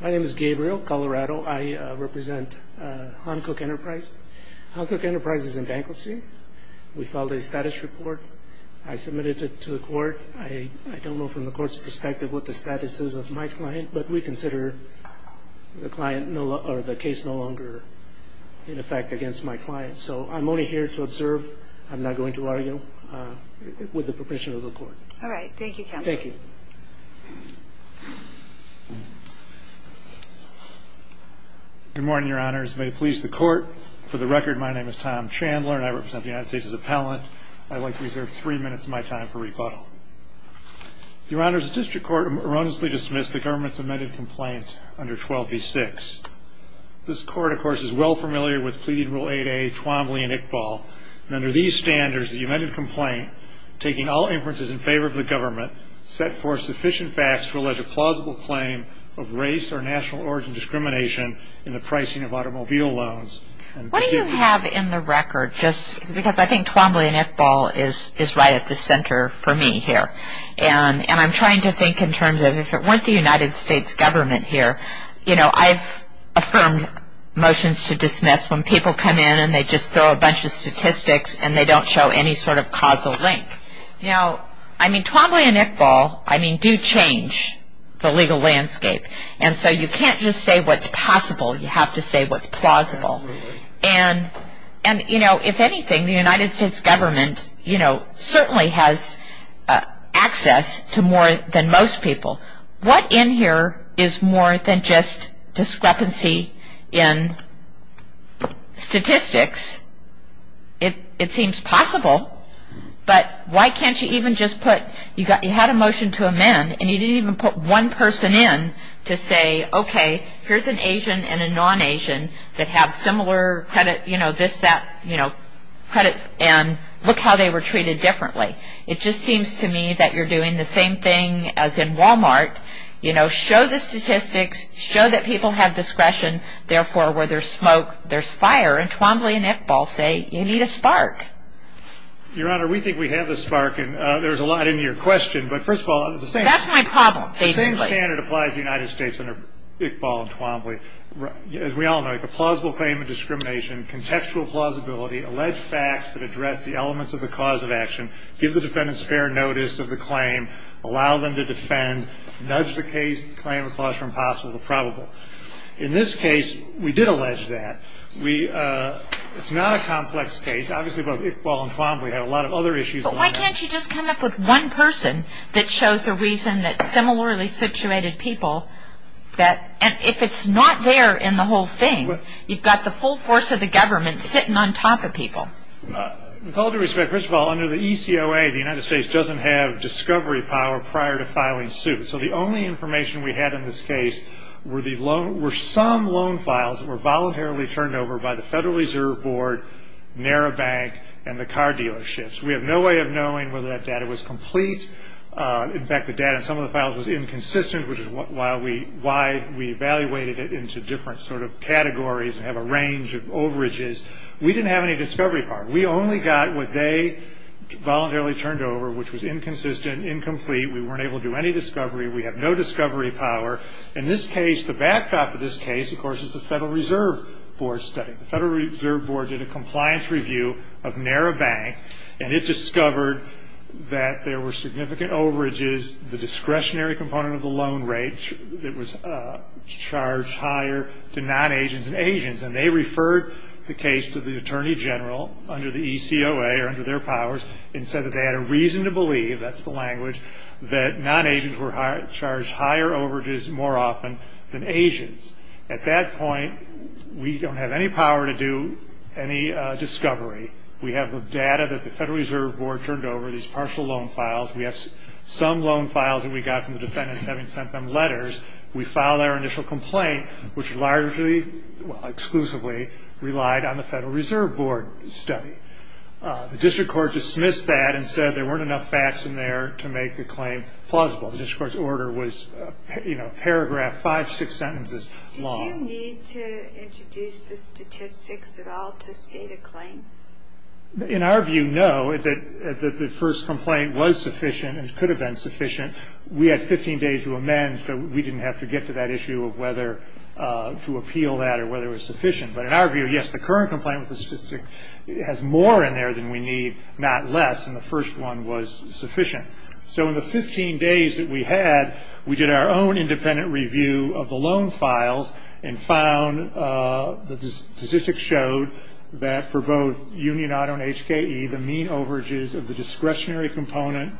My name is Gabriel Colorado. I represent Hancock Enterprise. Hancock Enterprise is in bankruptcy. We filed a status report. I submitted it to the court. I don't know from the court's perspective what the status is of my client, but we consider the case no longer in effect against my client. So I'm only here to observe. I'm not going to argue with the permission of the court. All right. Thank you, Counselor. Thank you. What do you have in the record? Just because I think Twombly and Iqbal is right at the center for me here. And I'm trying to think in terms of if it weren't the United States government here, you know, I've affirmed motions to dismiss when people come in and they just throw a bunch of statistics and they don't show any sort of causal link. Now, I mean, Twombly and Iqbal, I mean, do change the legal landscape. And so you can't just say what's possible. You have to say what's plausible. And, you know, if anything, the United States government, you know, certainly has access to more than most people. So what in here is more than just discrepancy in statistics? It seems possible, but why can't you even just put, you had a motion to amend and you didn't even put one person in to say, okay, here's an Asian and a non-Asian that have similar credit, you know, this, that, you know, credit and look how they were treated differently. It just seems to me that you're doing the same thing as in Walmart, you know, show the statistics, show that people have discretion. Therefore, where there's smoke, there's fire. And Twombly and Iqbal say, you need a spark. Your Honor, we think we have the spark and there's a lot in your question. But first of all, the same standard applies to the United States under Iqbal and Twombly. As we all know, if a plausible claim of discrimination, contextual plausibility, allege facts that address the elements of the cause of action, give the defendants fair notice of the claim, allow them to defend, nudge the claim of clause from possible to probable. In this case, we did allege that. We, it's not a complex case. Obviously, both Iqbal and Twombly have a lot of other issues. But why can't you just come up with one person that shows a reason that similarly situated people that, and if it's not there in the whole thing, you've got the full force of the government sitting on top of people. With all due respect, first of all, under the ECOA, the United States doesn't have discovery power prior to filing suit. So the only information we had in this case were some loan files that were voluntarily turned over by the Federal Reserve Board, NARA Bank, and the car dealerships. We have no way of knowing whether that data was complete. In fact, the data in some of the files was inconsistent, which is why we evaluated it into different sort of categories and have a range of overages. We didn't have any discovery power. We only got what they voluntarily turned over, which was inconsistent, incomplete. We weren't able to do any discovery. We have no discovery power. In this case, the backdrop of this case, of course, is the Federal Reserve Board study. The Federal Reserve Board did a compliance review of NARA Bank, and it discovered that there were significant overages, the discretionary component of the loan rate that was charged higher to non-Asians than Asians, and they referred the case to the Attorney General under the ECOA or under their powers and said that they had a reason to believe, that's the language, that non-Asians were charged higher overages more often than Asians. At that point, we don't have any power to do any discovery. We have the data that the Federal Reserve Board turned over, these partial loan files. We have some loan files that we got from the defendants having sent them letters. We filed our initial complaint, which largely, well, exclusively relied on the Federal Reserve Board study. The district court dismissed that and said there weren't enough facts in there to make the claim plausible. The district court's order was a paragraph, five, six sentences long. Did you need to introduce the statistics at all to state a claim? In our view, no. The first complaint was sufficient and could have been sufficient. We had 15 days to amend, so we didn't have to get to that issue of whether to appeal that or whether it was sufficient. But in our view, yes, the current complaint with the statistic has more in there than we need, not less, and the first one was sufficient. So in the 15 days that we had, we did our own independent review of the loan files and found that the statistics showed that for both Union Auto and HKE, the mean overages of the discretionary component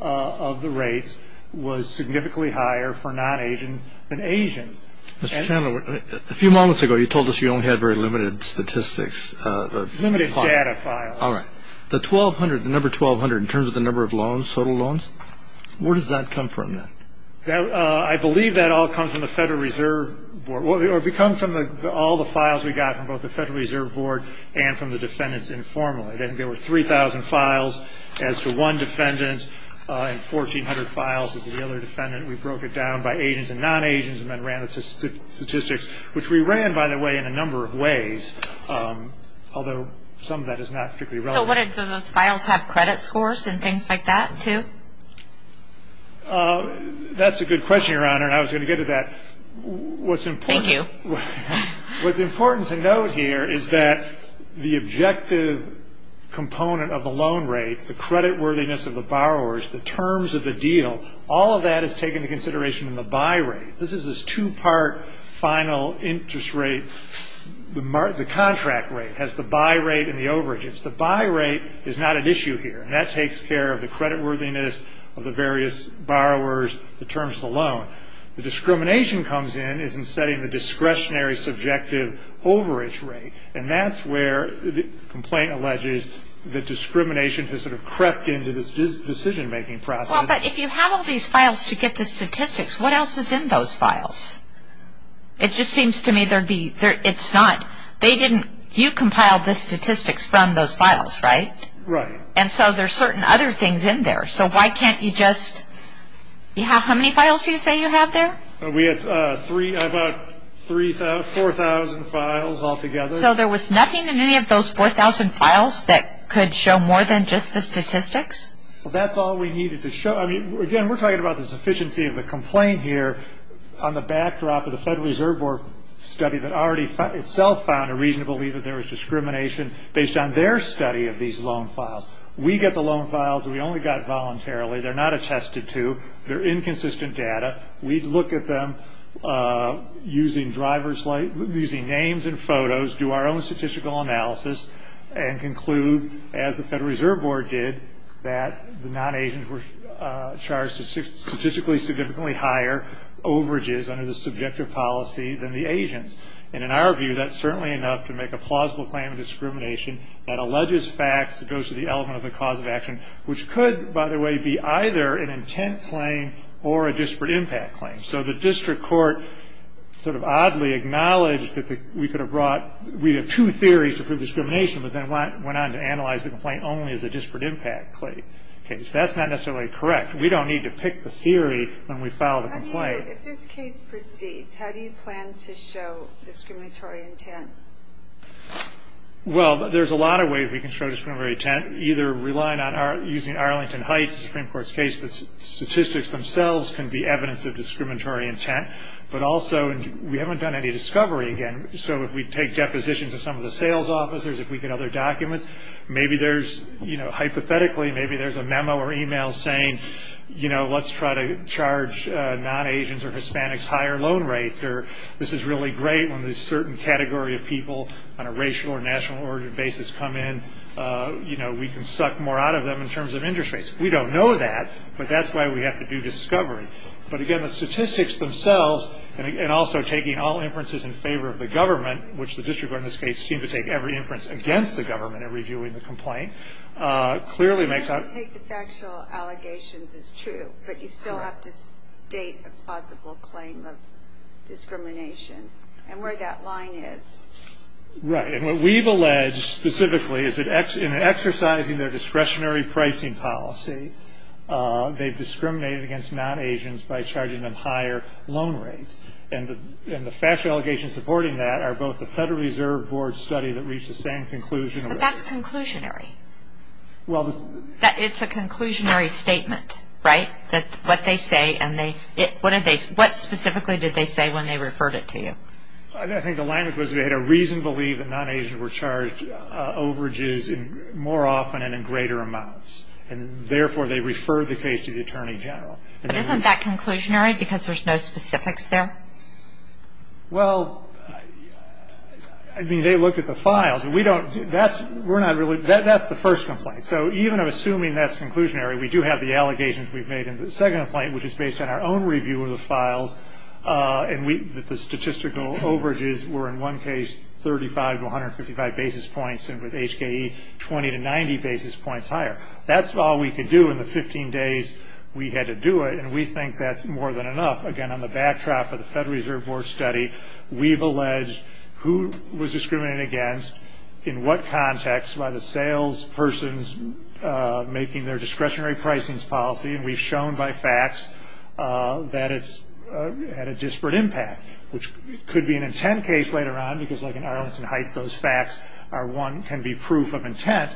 of the rates was significantly higher for non-Asians than Asians. Mr. Chandler, a few moments ago, you told us you only had very limited statistics. Limited data files. All right. The 1,200, the number 1,200 in terms of the number of loans, total loans, where does that come from then? I believe that all comes from the Federal Reserve Board. It comes from all the files we got from both the Federal Reserve Board and from the defendants informally. There were 3,000 files as to one defendant and 1,400 files as to the other defendant. We broke it down by Asians and non-Asians and then ran the statistics, which we ran, by the way, in a number of ways, although some of that is not particularly relevant. So did those files have credit scores and things like that, too? That's a good question, Your Honor, and I was going to get to that. Thank you. What's important to note here is that the objective component of the loan rates, the credit worthiness of the borrowers, the terms of the deal, all of that is taken into consideration in the buy rate. This is a two-part final interest rate. The contract rate has the buy rate and the overage. The buy rate is not an issue here, and that takes care of the credit worthiness of the various borrowers, the terms of the loan. The discrimination comes in is in setting the discretionary subjective overage rate, and that's where the complaint alleges that discrimination has sort of crept into this decision-making process. Well, but if you have all these files to get the statistics, what else is in those files? It just seems to me there'd be – it's not – they didn't – you compiled the statistics from those files, right? Right. And so there's certain other things in there, so why can't you just – you have how many files do you say you have there? We have about 4,000 files altogether. So there was nothing in any of those 4,000 files that could show more than just the statistics? Well, that's all we needed to show. I mean, again, we're talking about the sufficiency of the complaint here on the backdrop of the Federal Reserve Board study that already itself found a reason to believe that there was discrimination based on their study of these loan files. We get the loan files. We only got it voluntarily. They're not attested to. They're inconsistent data. We look at them using driver's – using names and photos, do our own statistical analysis, and conclude, as the Federal Reserve Board did, that the non-Asians were charged with statistically significantly higher overages under the subjective policy than the Asians. And in our view, that's certainly enough to make a plausible claim of discrimination that alleges facts that goes to the element of the cause of action, which could, by the way, be either an intent claim or a disparate impact claim. So the district court sort of oddly acknowledged that we could have brought – we have two theories to prove discrimination, but then went on to analyze the complaint only as a disparate impact case. That's not necessarily correct. We don't need to pick the theory when we file the complaint. How do you – if this case proceeds, how do you plan to show discriminatory intent? Well, there's a lot of ways we can show discriminatory intent, either relying on – using Arlington Heights, the Supreme Court's case, that statistics themselves can be evidence of discriminatory intent. But also, we haven't done any discovery, again. So if we take depositions of some of the sales officers, if we get other documents, maybe there's – hypothetically, maybe there's a memo or email saying, you know, let's try to charge non-Asians or Hispanics higher loan rates, or this is really great when this certain category of people on a racial or national basis come in. You know, we can suck more out of them in terms of interest rates. We don't know that, but that's why we have to do discovery. But again, the statistics themselves, and also taking all inferences in favor of the government, which the district court in this case seemed to take every inference against the government in reviewing the complaint, clearly makes out – You have to take the factual allegations is true, but you still have to state a plausible claim of discrimination and where that line is. Right, and what we've alleged specifically is that in exercising their discretionary pricing policy, they've discriminated against non-Asians by charging them higher loan rates. And the factual allegations supporting that are both the Federal Reserve Board study that reached the same conclusion – But that's conclusionary. Well – It's a conclusionary statement, right? That what they say and they – what specifically did they say when they referred it to you? I think the language was they had a reason to believe that non-Asians were charged overages more often and in greater amounts, and therefore they referred the case to the Attorney General. But isn't that conclusionary because there's no specifics there? Well, I mean, they looked at the files. We don't – that's – we're not really – that's the first complaint. So even assuming that's conclusionary, we do have the allegations we've made in the second complaint, which is based on our own review of the files, and we – that the statistical overages were in one case 35 to 155 basis points and with HKE, 20 to 90 basis points higher. That's all we could do in the 15 days we had to do it, and we think that's more than enough. Again, on the backdrop of the Federal Reserve Board study, we've alleged who was discriminated against, in what context, by the sales persons making their discretionary pricing policy. And we've shown by facts that it's had a disparate impact, which could be an intent case later on because, like in Arlington Heights, those facts are one – can be proof of intent.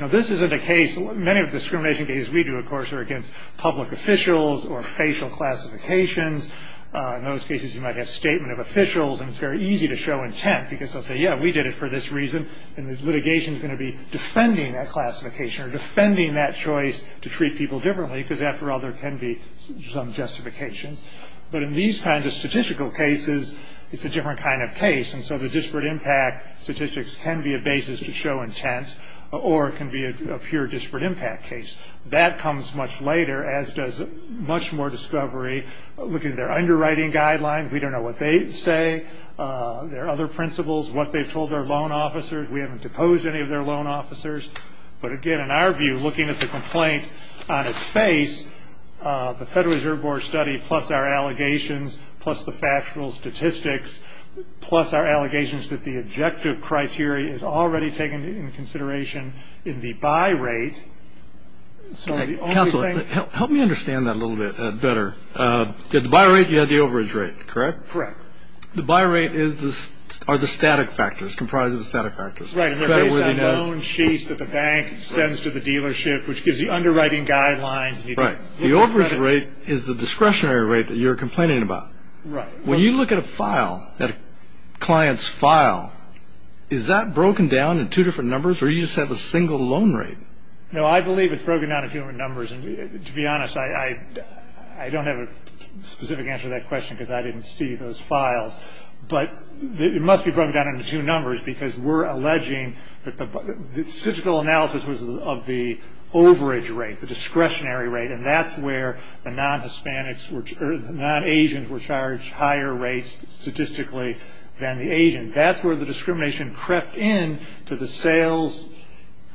Now, this isn't a case – many of the discrimination cases we do, of course, are against public officials or facial classifications. In those cases, you might have statement of officials, and it's very easy to show intent because they'll say, yeah, we did it for this reason, and the litigation's going to be defending that classification or defending that choice to treat people differently because, after all, there can be some justifications. But in these kinds of statistical cases, it's a different kind of case, and so the disparate impact statistics can be a basis to show intent or it can be a pure disparate impact case. That comes much later, as does much more discovery. Look at their underwriting guidelines. We don't know what they say. There are other principles, what they've told their loan officers. We haven't deposed any of their loan officers. But, again, in our view, looking at the complaint on its face, the Federal Reserve Board study plus our allegations plus the factual statistics plus our allegations that the objective criteria is already taken into consideration in the buy rate. Counselor, help me understand that a little bit better. The buy rate, you had the overage rate, correct? Correct. The buy rate are the static factors, comprised of the static factors. Right, and they're based on loan sheets that the bank sends to the dealership, which gives you underwriting guidelines. Right. The overage rate is the discretionary rate that you're complaining about. Right. When you look at a file, at a client's file, is that broken down in two different numbers, or do you just have a single loan rate? No, I believe it's broken down in two different numbers. And, to be honest, I don't have a specific answer to that question because I didn't see those files. But it must be broken down into two numbers because we're alleging that the statistical analysis was of the overage rate, the discretionary rate, and that's where the non-Hispanics or the non-Asians were charged higher rates statistically than the Asians. That's where the discrimination crept in to the sales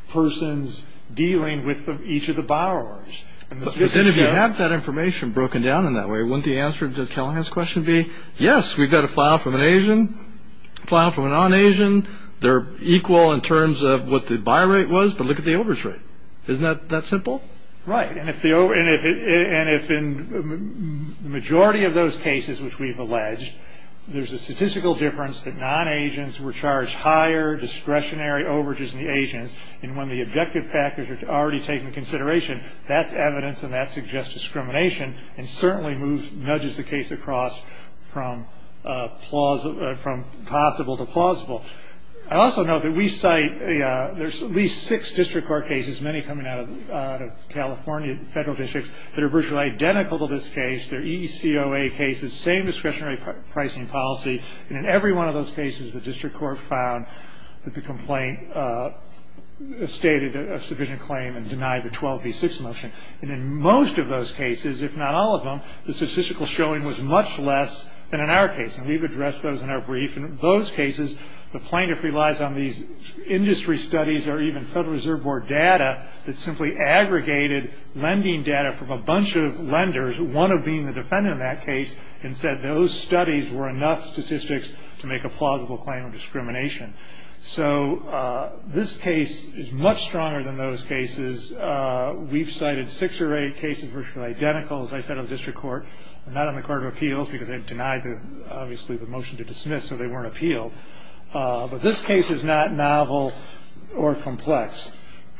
persons dealing with each of the borrowers. And if you have that information broken down in that way, wouldn't the answer to Callahan's question be, yes, we've got a file from an Asian, a file from a non-Asian, they're equal in terms of what the buy rate was, but look at the overage rate. Isn't that simple? Right. And if the majority of those cases which we've alleged, there's a statistical difference that non-Asians were charged higher discretionary overages than the Asians, and when the objective factors are already taken into consideration, that's evidence and that suggests discrimination and certainly nudges the case across from plausible to plausible. I also note that we cite there's at least six district court cases, many coming out of California federal districts, that are virtually identical to this case. They're EECOA cases, same discretionary pricing policy, and in every one of those cases the district court found that the complaint stated a sufficient claim and denied the 12B6 motion. And in most of those cases, if not all of them, the statistical showing was much less than in our case, and we've addressed those in our brief. In those cases, the plaintiff relies on these industry studies or even Federal Reserve Board data that simply aggregated lending data from a bunch of lenders, one of being the defendant in that case, and said those studies were enough statistics to make a plausible claim of discrimination. So this case is much stronger than those cases. We've cited six or eight cases virtually identical, as I said, of the district court, and not on the Court of Appeals because they've denied, obviously, the motion to dismiss, so they weren't appealed. But this case is not novel or complex.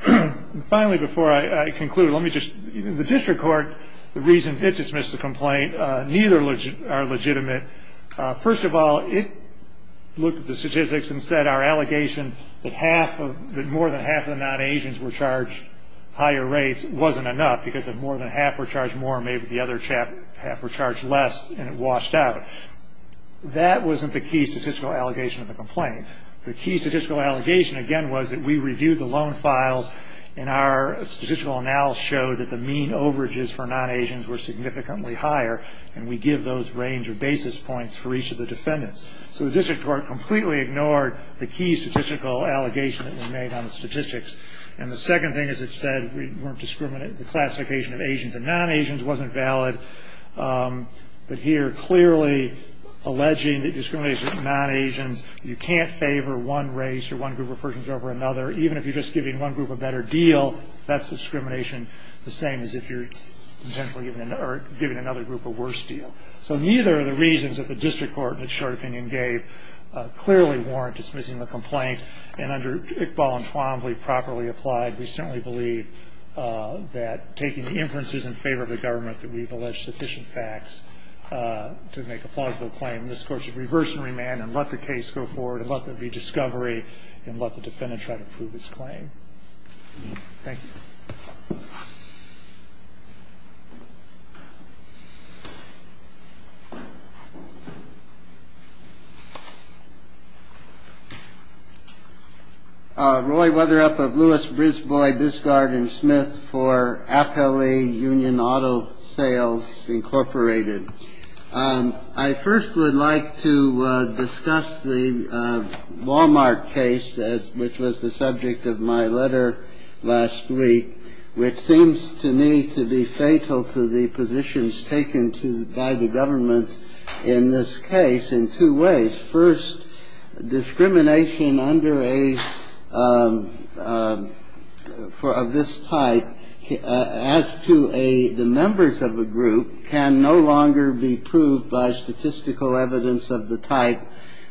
And finally, before I conclude, let me just – the district court, the reasons it dismissed the complaint, neither are legitimate. First of all, it looked at the statistics and said our allegation that more than half of the non-Asians were charged higher rates wasn't enough because if more than half were charged more, maybe the other half were charged less, and it washed out. That wasn't the key statistical allegation of the complaint. The key statistical allegation, again, was that we reviewed the loan files, and our statistical analysis showed that the mean overages for non-Asians were significantly higher, and we give those range or basis points for each of the defendants. So the district court completely ignored the key statistical allegation that was made on the statistics. And the second thing, as I've said, the classification of Asians and non-Asians wasn't valid. But here, clearly alleging that discrimination against non-Asians, you can't favor one race or one group of persons over another, even if you're just giving one group a better deal, that's discrimination the same as if you're giving another group a worse deal. So neither of the reasons that the district court in its short opinion gave clearly warrant dismissing the complaint. And under Iqbal and Twombly, properly applied, we certainly believe that taking inferences in favor of the government that we've alleged sufficient facts to make a plausible claim, this Court should reverse and remand and let the case go forward and let there be discovery and let the defendant try to prove his claim. Thank you. Roberts. Roy Weatherup of Lewis, Brisbois, Discard and Smith for FLE Union Auto Sales, Incorporated. I first would like to discuss the Walmart case, which was the subject of my letter last week, which seems to me to be fatal to the positions taken by the government in this case in two ways. First, discrimination of this type as to the members of a group can no longer be proved by statistical evidence of the type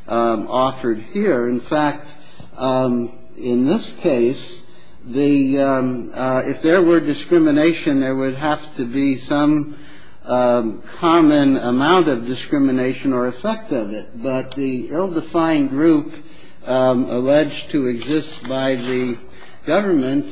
offered here. In fact, in this case, if there were discrimination, there would have to be some common amount of discrimination or effect of it. But the ill-defined group alleged to exist by the government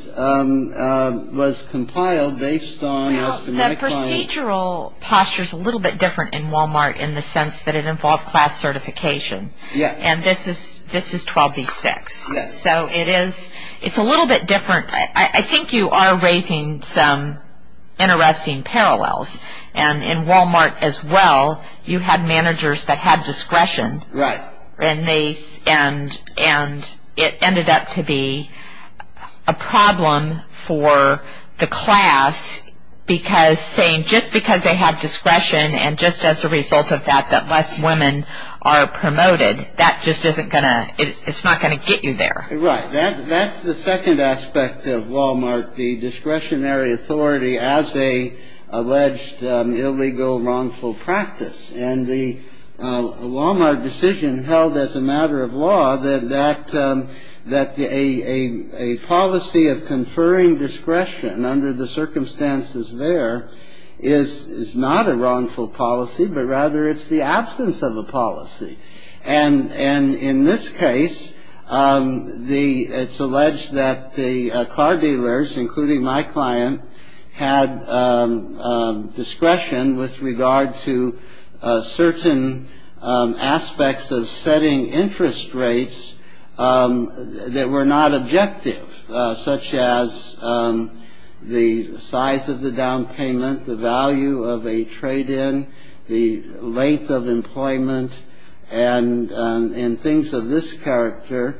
was compiled based on as to medical. The procedural posture is a little bit different in Walmart in the sense that it involved class certification. Yes. And this is 12b-6. Yes. So it is a little bit different. I think you are raising some interesting parallels. And in Walmart as well, you had managers that had discretion. Right. And it ended up to be a problem for the class because saying just because they had discretion and just as a result of that, that less women are promoted, that just isn't going to, it's not going to get you there. That's the second aspect of Walmart. The discretionary authority as a alleged illegal wrongful practice. And the Walmart decision held as a matter of law that a policy of conferring discretion under the circumstances there is not a wrongful policy, but rather it's the absence of a policy. And and in this case, the it's alleged that the car dealers, including my client, had discretion with regard to certain aspects of setting interest rates that were not objective, such as the size of the down payment, the value of a trade in the length of employment. And in things of this character,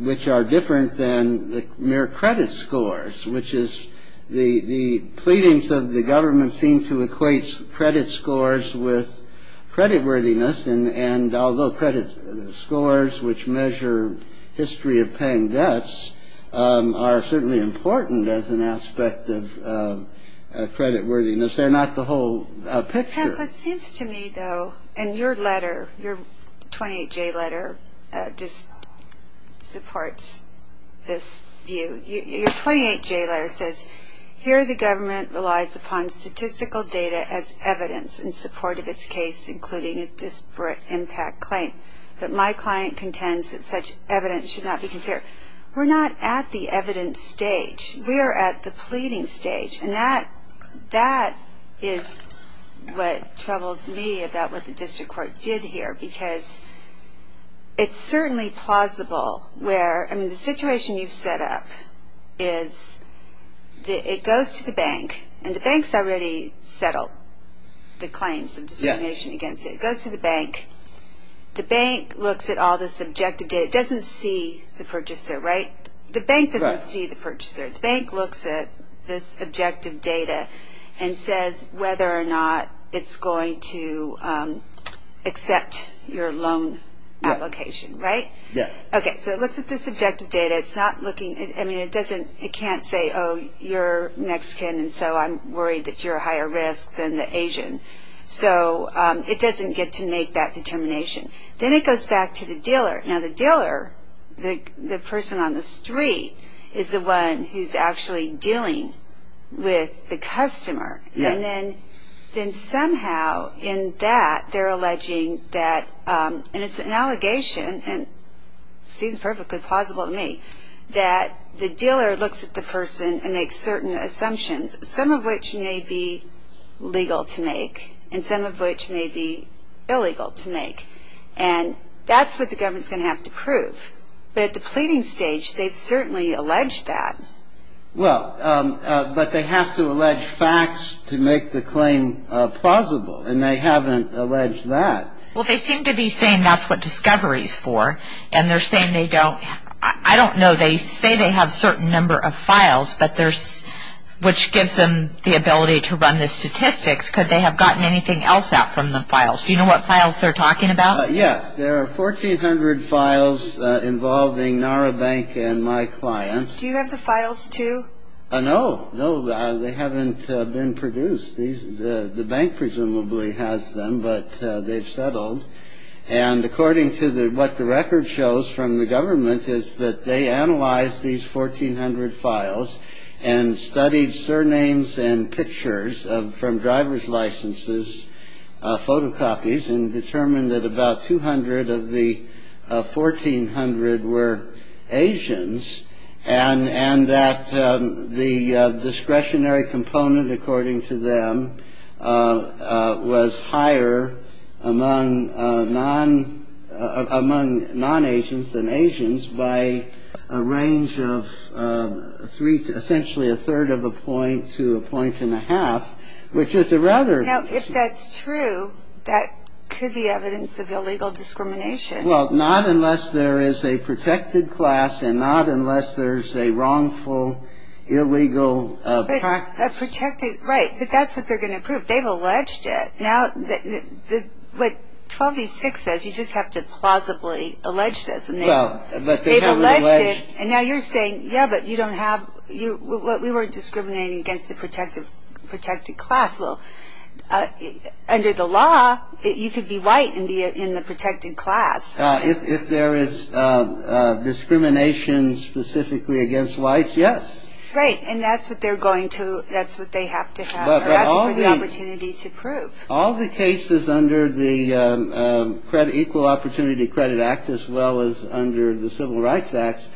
which are different than mere credit scores, which is the pleadings of the government seem to equate credit scores with credit worthiness. And although credit scores, which measure history of paying debts, are certainly important as an aspect of credit worthiness, they're not the whole picture. It seems to me, though, and your letter, your 28 J letter, just supports this view. Your 28 J letter says, here the government relies upon statistical data as evidence in support of its case, including a disparate impact claim. But my client contends that such evidence should not be considered. We're not at the evidence stage. We are at the pleading stage. And that is what troubles me about what the district court did here, because it's certainly plausible where, I mean, the situation you've set up is it goes to the bank, and the bank's already settled the claims of discrimination against it. It goes to the bank. The bank looks at all this objective data. It doesn't see the purchaser, right? The bank doesn't see the purchaser. The bank looks at this objective data and says whether or not it's going to accept your loan application, right? Yeah. Okay. So it looks at this objective data. It's not looking, I mean, it doesn't, it can't say, oh, you're Mexican, and so I'm worried that you're a higher risk than the Asian. So it doesn't get to make that determination. Then it goes back to the dealer. Now, the dealer, the person on the street, is the one who's actually dealing with the customer. And then somehow in that they're alleging that, and it's an allegation and seems perfectly plausible to me, that the dealer looks at the person and makes certain assumptions, some of which may be legal to make and some of which may be illegal to make. And that's what the government's going to have to prove. But at the pleading stage, they've certainly alleged that. Well, but they have to allege facts to make the claim plausible, and they haven't alleged that. Well, they seem to be saying that's what discovery's for, and they're saying they don't. I don't know. They say they have a certain number of files, which gives them the ability to run the statistics. Could they have gotten anything else out from the files? Do you know what files they're talking about? Yes. There are 1,400 files involving NARA Bank and my client. Do you have the files, too? No. No, they haven't been produced. The bank presumably has them, but they've settled. And according to what the record shows from the government is that they analyzed these 1,400 files and studied surnames and pictures from driver's licenses, photocopies, and determined that about 200 of the 1,400 were Asians and that the discretionary component, according to them, was higher among non-Asians than Asians by a range of essentially a third of a point to a point and a half, which is a rather... Now, if that's true, that could be evidence of illegal discrimination. Well, not unless there is a protected class and not unless there's a wrongful, illegal practice. Right, but that's what they're going to prove. They've alleged it. Now, what 12v6 says, you just have to plausibly allege this. Well, but they haven't alleged. They've alleged it, and now you're saying, yeah, but you don't have... We weren't discriminating against the protected class. Well, under the law, you could be white and be in the protected class. If there is discrimination specifically against whites, yes. Right, and that's what they have to have or ask for the opportunity to prove. All the cases under the Equal Opportunity Credit Act, as well as under the Civil Rights Act,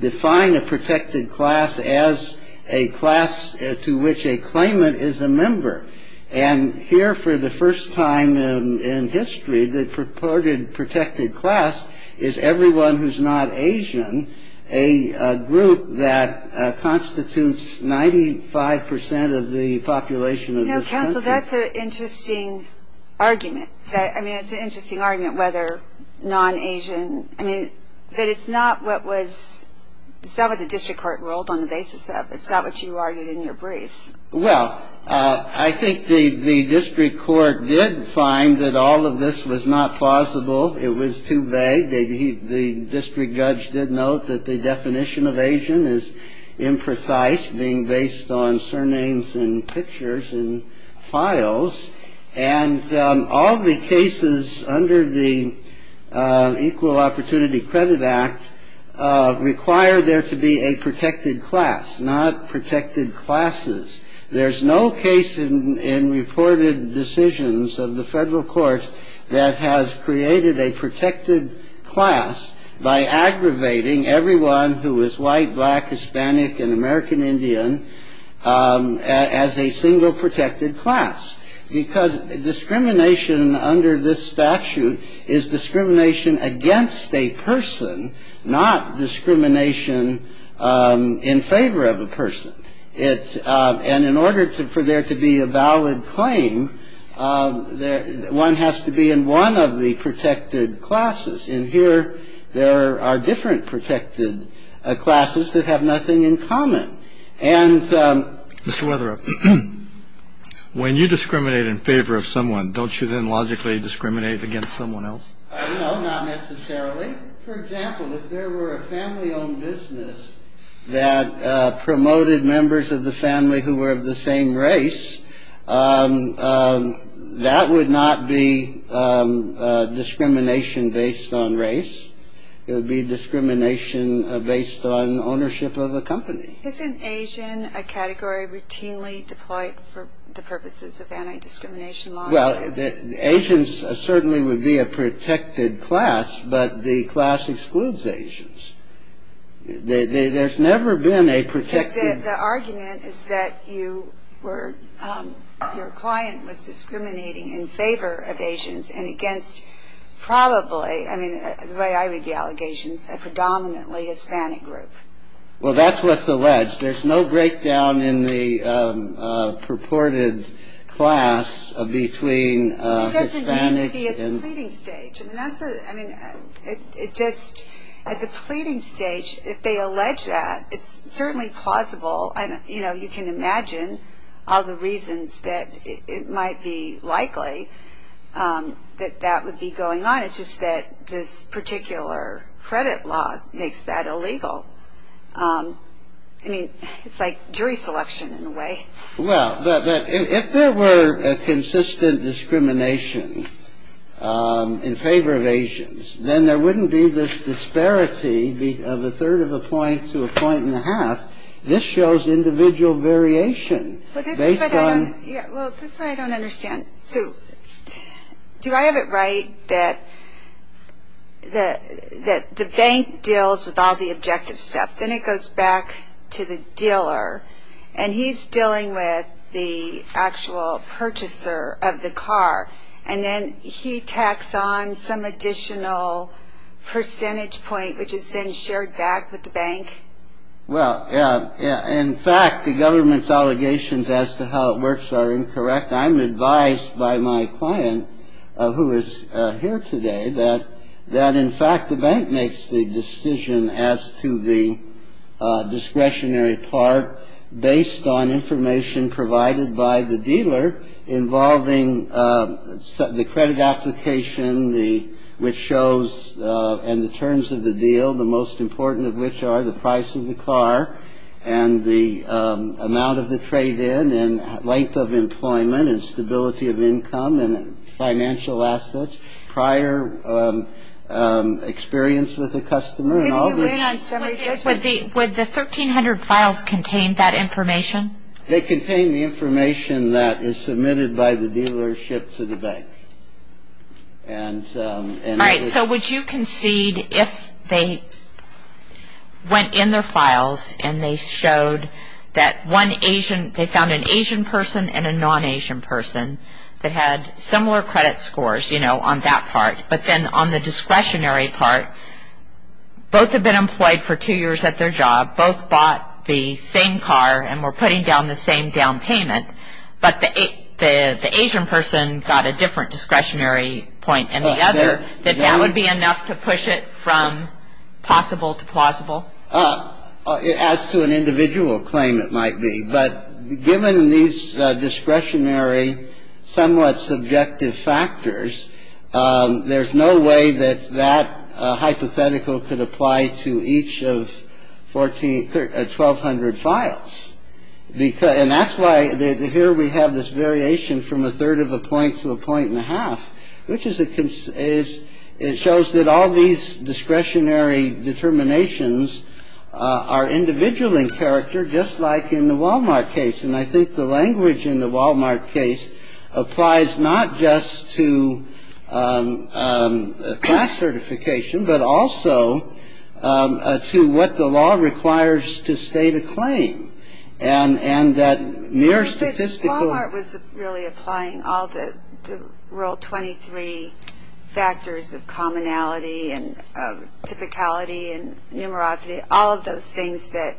define a protected class as a class to which a claimant is a member. And here, for the first time in history, the purported protected class is everyone who's not Asian, a group that constitutes 95 percent of the population of this country. Now, counsel, that's an interesting argument. I mean, it's an interesting argument whether non-Asian. I mean, but it's not what was... it's not what the district court ruled on the basis of. It's not what you argued in your briefs. Well, I think the district court did find that all of this was not plausible. It was too vague. The district judge did note that the definition of Asian is imprecise, being based on surnames and pictures and files. And all the cases under the Equal Opportunity Credit Act require there to be a protected class, not protected classes. There's no case in reported decisions of the federal court that has created a protected class by aggravating everyone who is white, black, Hispanic, and American Indian as a single protected class, because discrimination under this statute is discrimination against a person, not discrimination in favor of a person. And in order for there to be a valid claim, one has to be in one of the protected classes. And here there are different protected classes that have nothing in common. And... Mr. Weatherup, when you discriminate in favor of someone, don't you then logically discriminate against someone else? No, not necessarily. For example, if there were a family-owned business that promoted members of the family who were of the same race, that would not be discrimination based on race. It would be discrimination based on ownership of a company. Isn't Asian a category routinely deployed for the purposes of anti-discrimination laws? Well, Asians certainly would be a protected class, but the class excludes Asians. There's never been a protected... The argument is that you were, your client was discriminating in favor of Asians and against probably, I mean, the way I read the allegations, a predominantly Hispanic group. Well, that's what's alleged. There's no breakdown in the purported class between Hispanics and... I guess it needs to be at the pleading stage. I mean, that's the... I mean, it just, at the pleading stage, if they allege that, it's certainly plausible. And, you know, you can imagine all the reasons that it might be likely that that would be going on. It's just that this particular credit law makes that illegal. I mean, it's like jury selection in a way. Well, if there were a consistent discrimination in favor of Asians, then there wouldn't be this disparity of a third of a point to a point and a half. This shows individual variation. Well, this is what I don't understand. So do I have it right that the bank deals with all the objective stuff, then it goes back to the dealer, and he's dealing with the actual purchaser of the car, and then he tacks on some additional percentage point, which is then shared back with the bank? Well, in fact, the government's allegations as to how it works are incorrect. I'm advised by my client, who is here today, that in fact the bank makes the decision as to the discretionary part based on information provided by the dealer involving the credit application, which shows and the terms of the deal, the most important of which are the price of the car and the amount of the trade-in and length of employment and stability of income and financial assets, prior experience with the customer and all this. Would the 1300 files contain that information? They contain the information that is submitted by the dealership to the bank. All right, so would you concede if they went in their files and they found an Asian person and a non-Asian person that had similar credit scores, you know, on that part, but then on the discretionary part, both have been employed for two years at their job, both bought the same car and were putting down the same down payment, but the Asian person got a different discretionary point than the other, that that would be enough to push it from possible to plausible? As to an individual claim, it might be. But given these discretionary, somewhat subjective factors, there's no way that that hypothetical could apply to each of 1,200 files. And that's why here we have this variation from a third of a point to a point and a half, which is it shows that all these discretionary determinations are individual in character, just like in the Wal-Mart case. And I think the language in the Wal-Mart case applies not just to class certification, but also to what the law requires to state a claim, and that mere statistical. But Wal-Mart was really applying all the Rule 23 factors of commonality and typicality and numerosity, all of those things that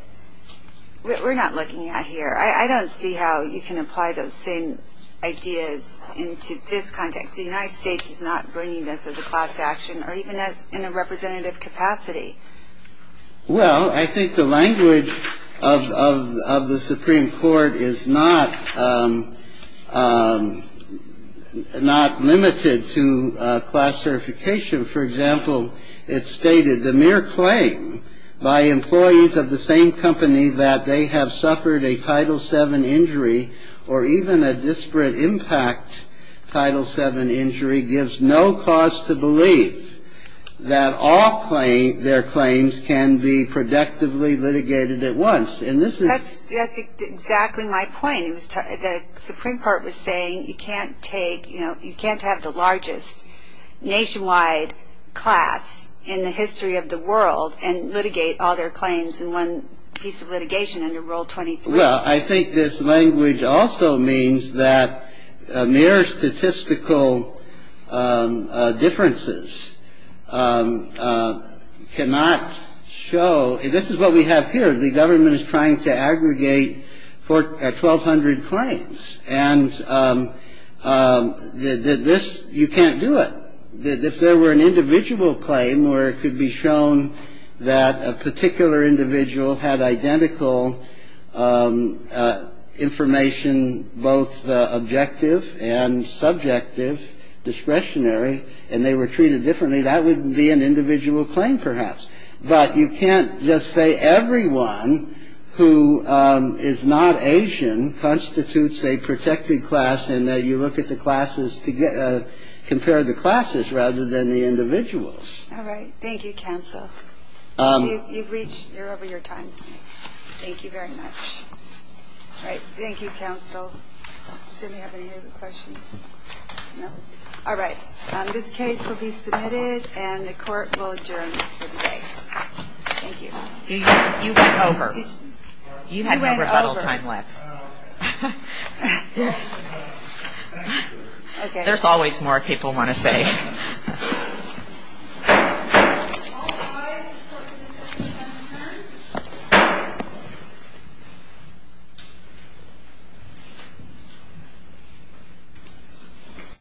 we're not looking at here. I don't see how you can apply those same ideas into this context. The United States is not bringing this as a class action, or even in a representative capacity. Well, I think the language of the Supreme Court is not limited to class certification. For example, it stated the mere claim by employees of the same company that they have suffered a Title VII injury or even a disparate impact Title VII injury gives no cause to believe that all their claims can be productively litigated at once. And this is ñ That's exactly my point. The Supreme Court was saying you can't take ñ you can't have the largest nationwide class in the history of the world and litigate all their claims in one piece of litigation under Rule 23. Well, I think this language also means that mere statistical differences cannot show ñ this is what we have here. The government is trying to aggregate 1,200 claims, and this ñ you can't do it. If there were an individual claim where it could be shown that a particular individual had identical information, both objective and subjective, discretionary, and they were treated differently, that would be an individual claim, perhaps. But you can't just say everyone who is not Asian constitutes a protected class and you look at the classes to get ñ compare the classes rather than the individuals. All right. Thank you, counsel. You've reached ñ you're over your time. Thank you very much. All right. Thank you, counsel. Does anybody have any other questions? No? All right. This case will be submitted, and the Court will adjourn for the day. Thank you. You went over. You had no rebuttal time left. Yes. There's always more people want to say.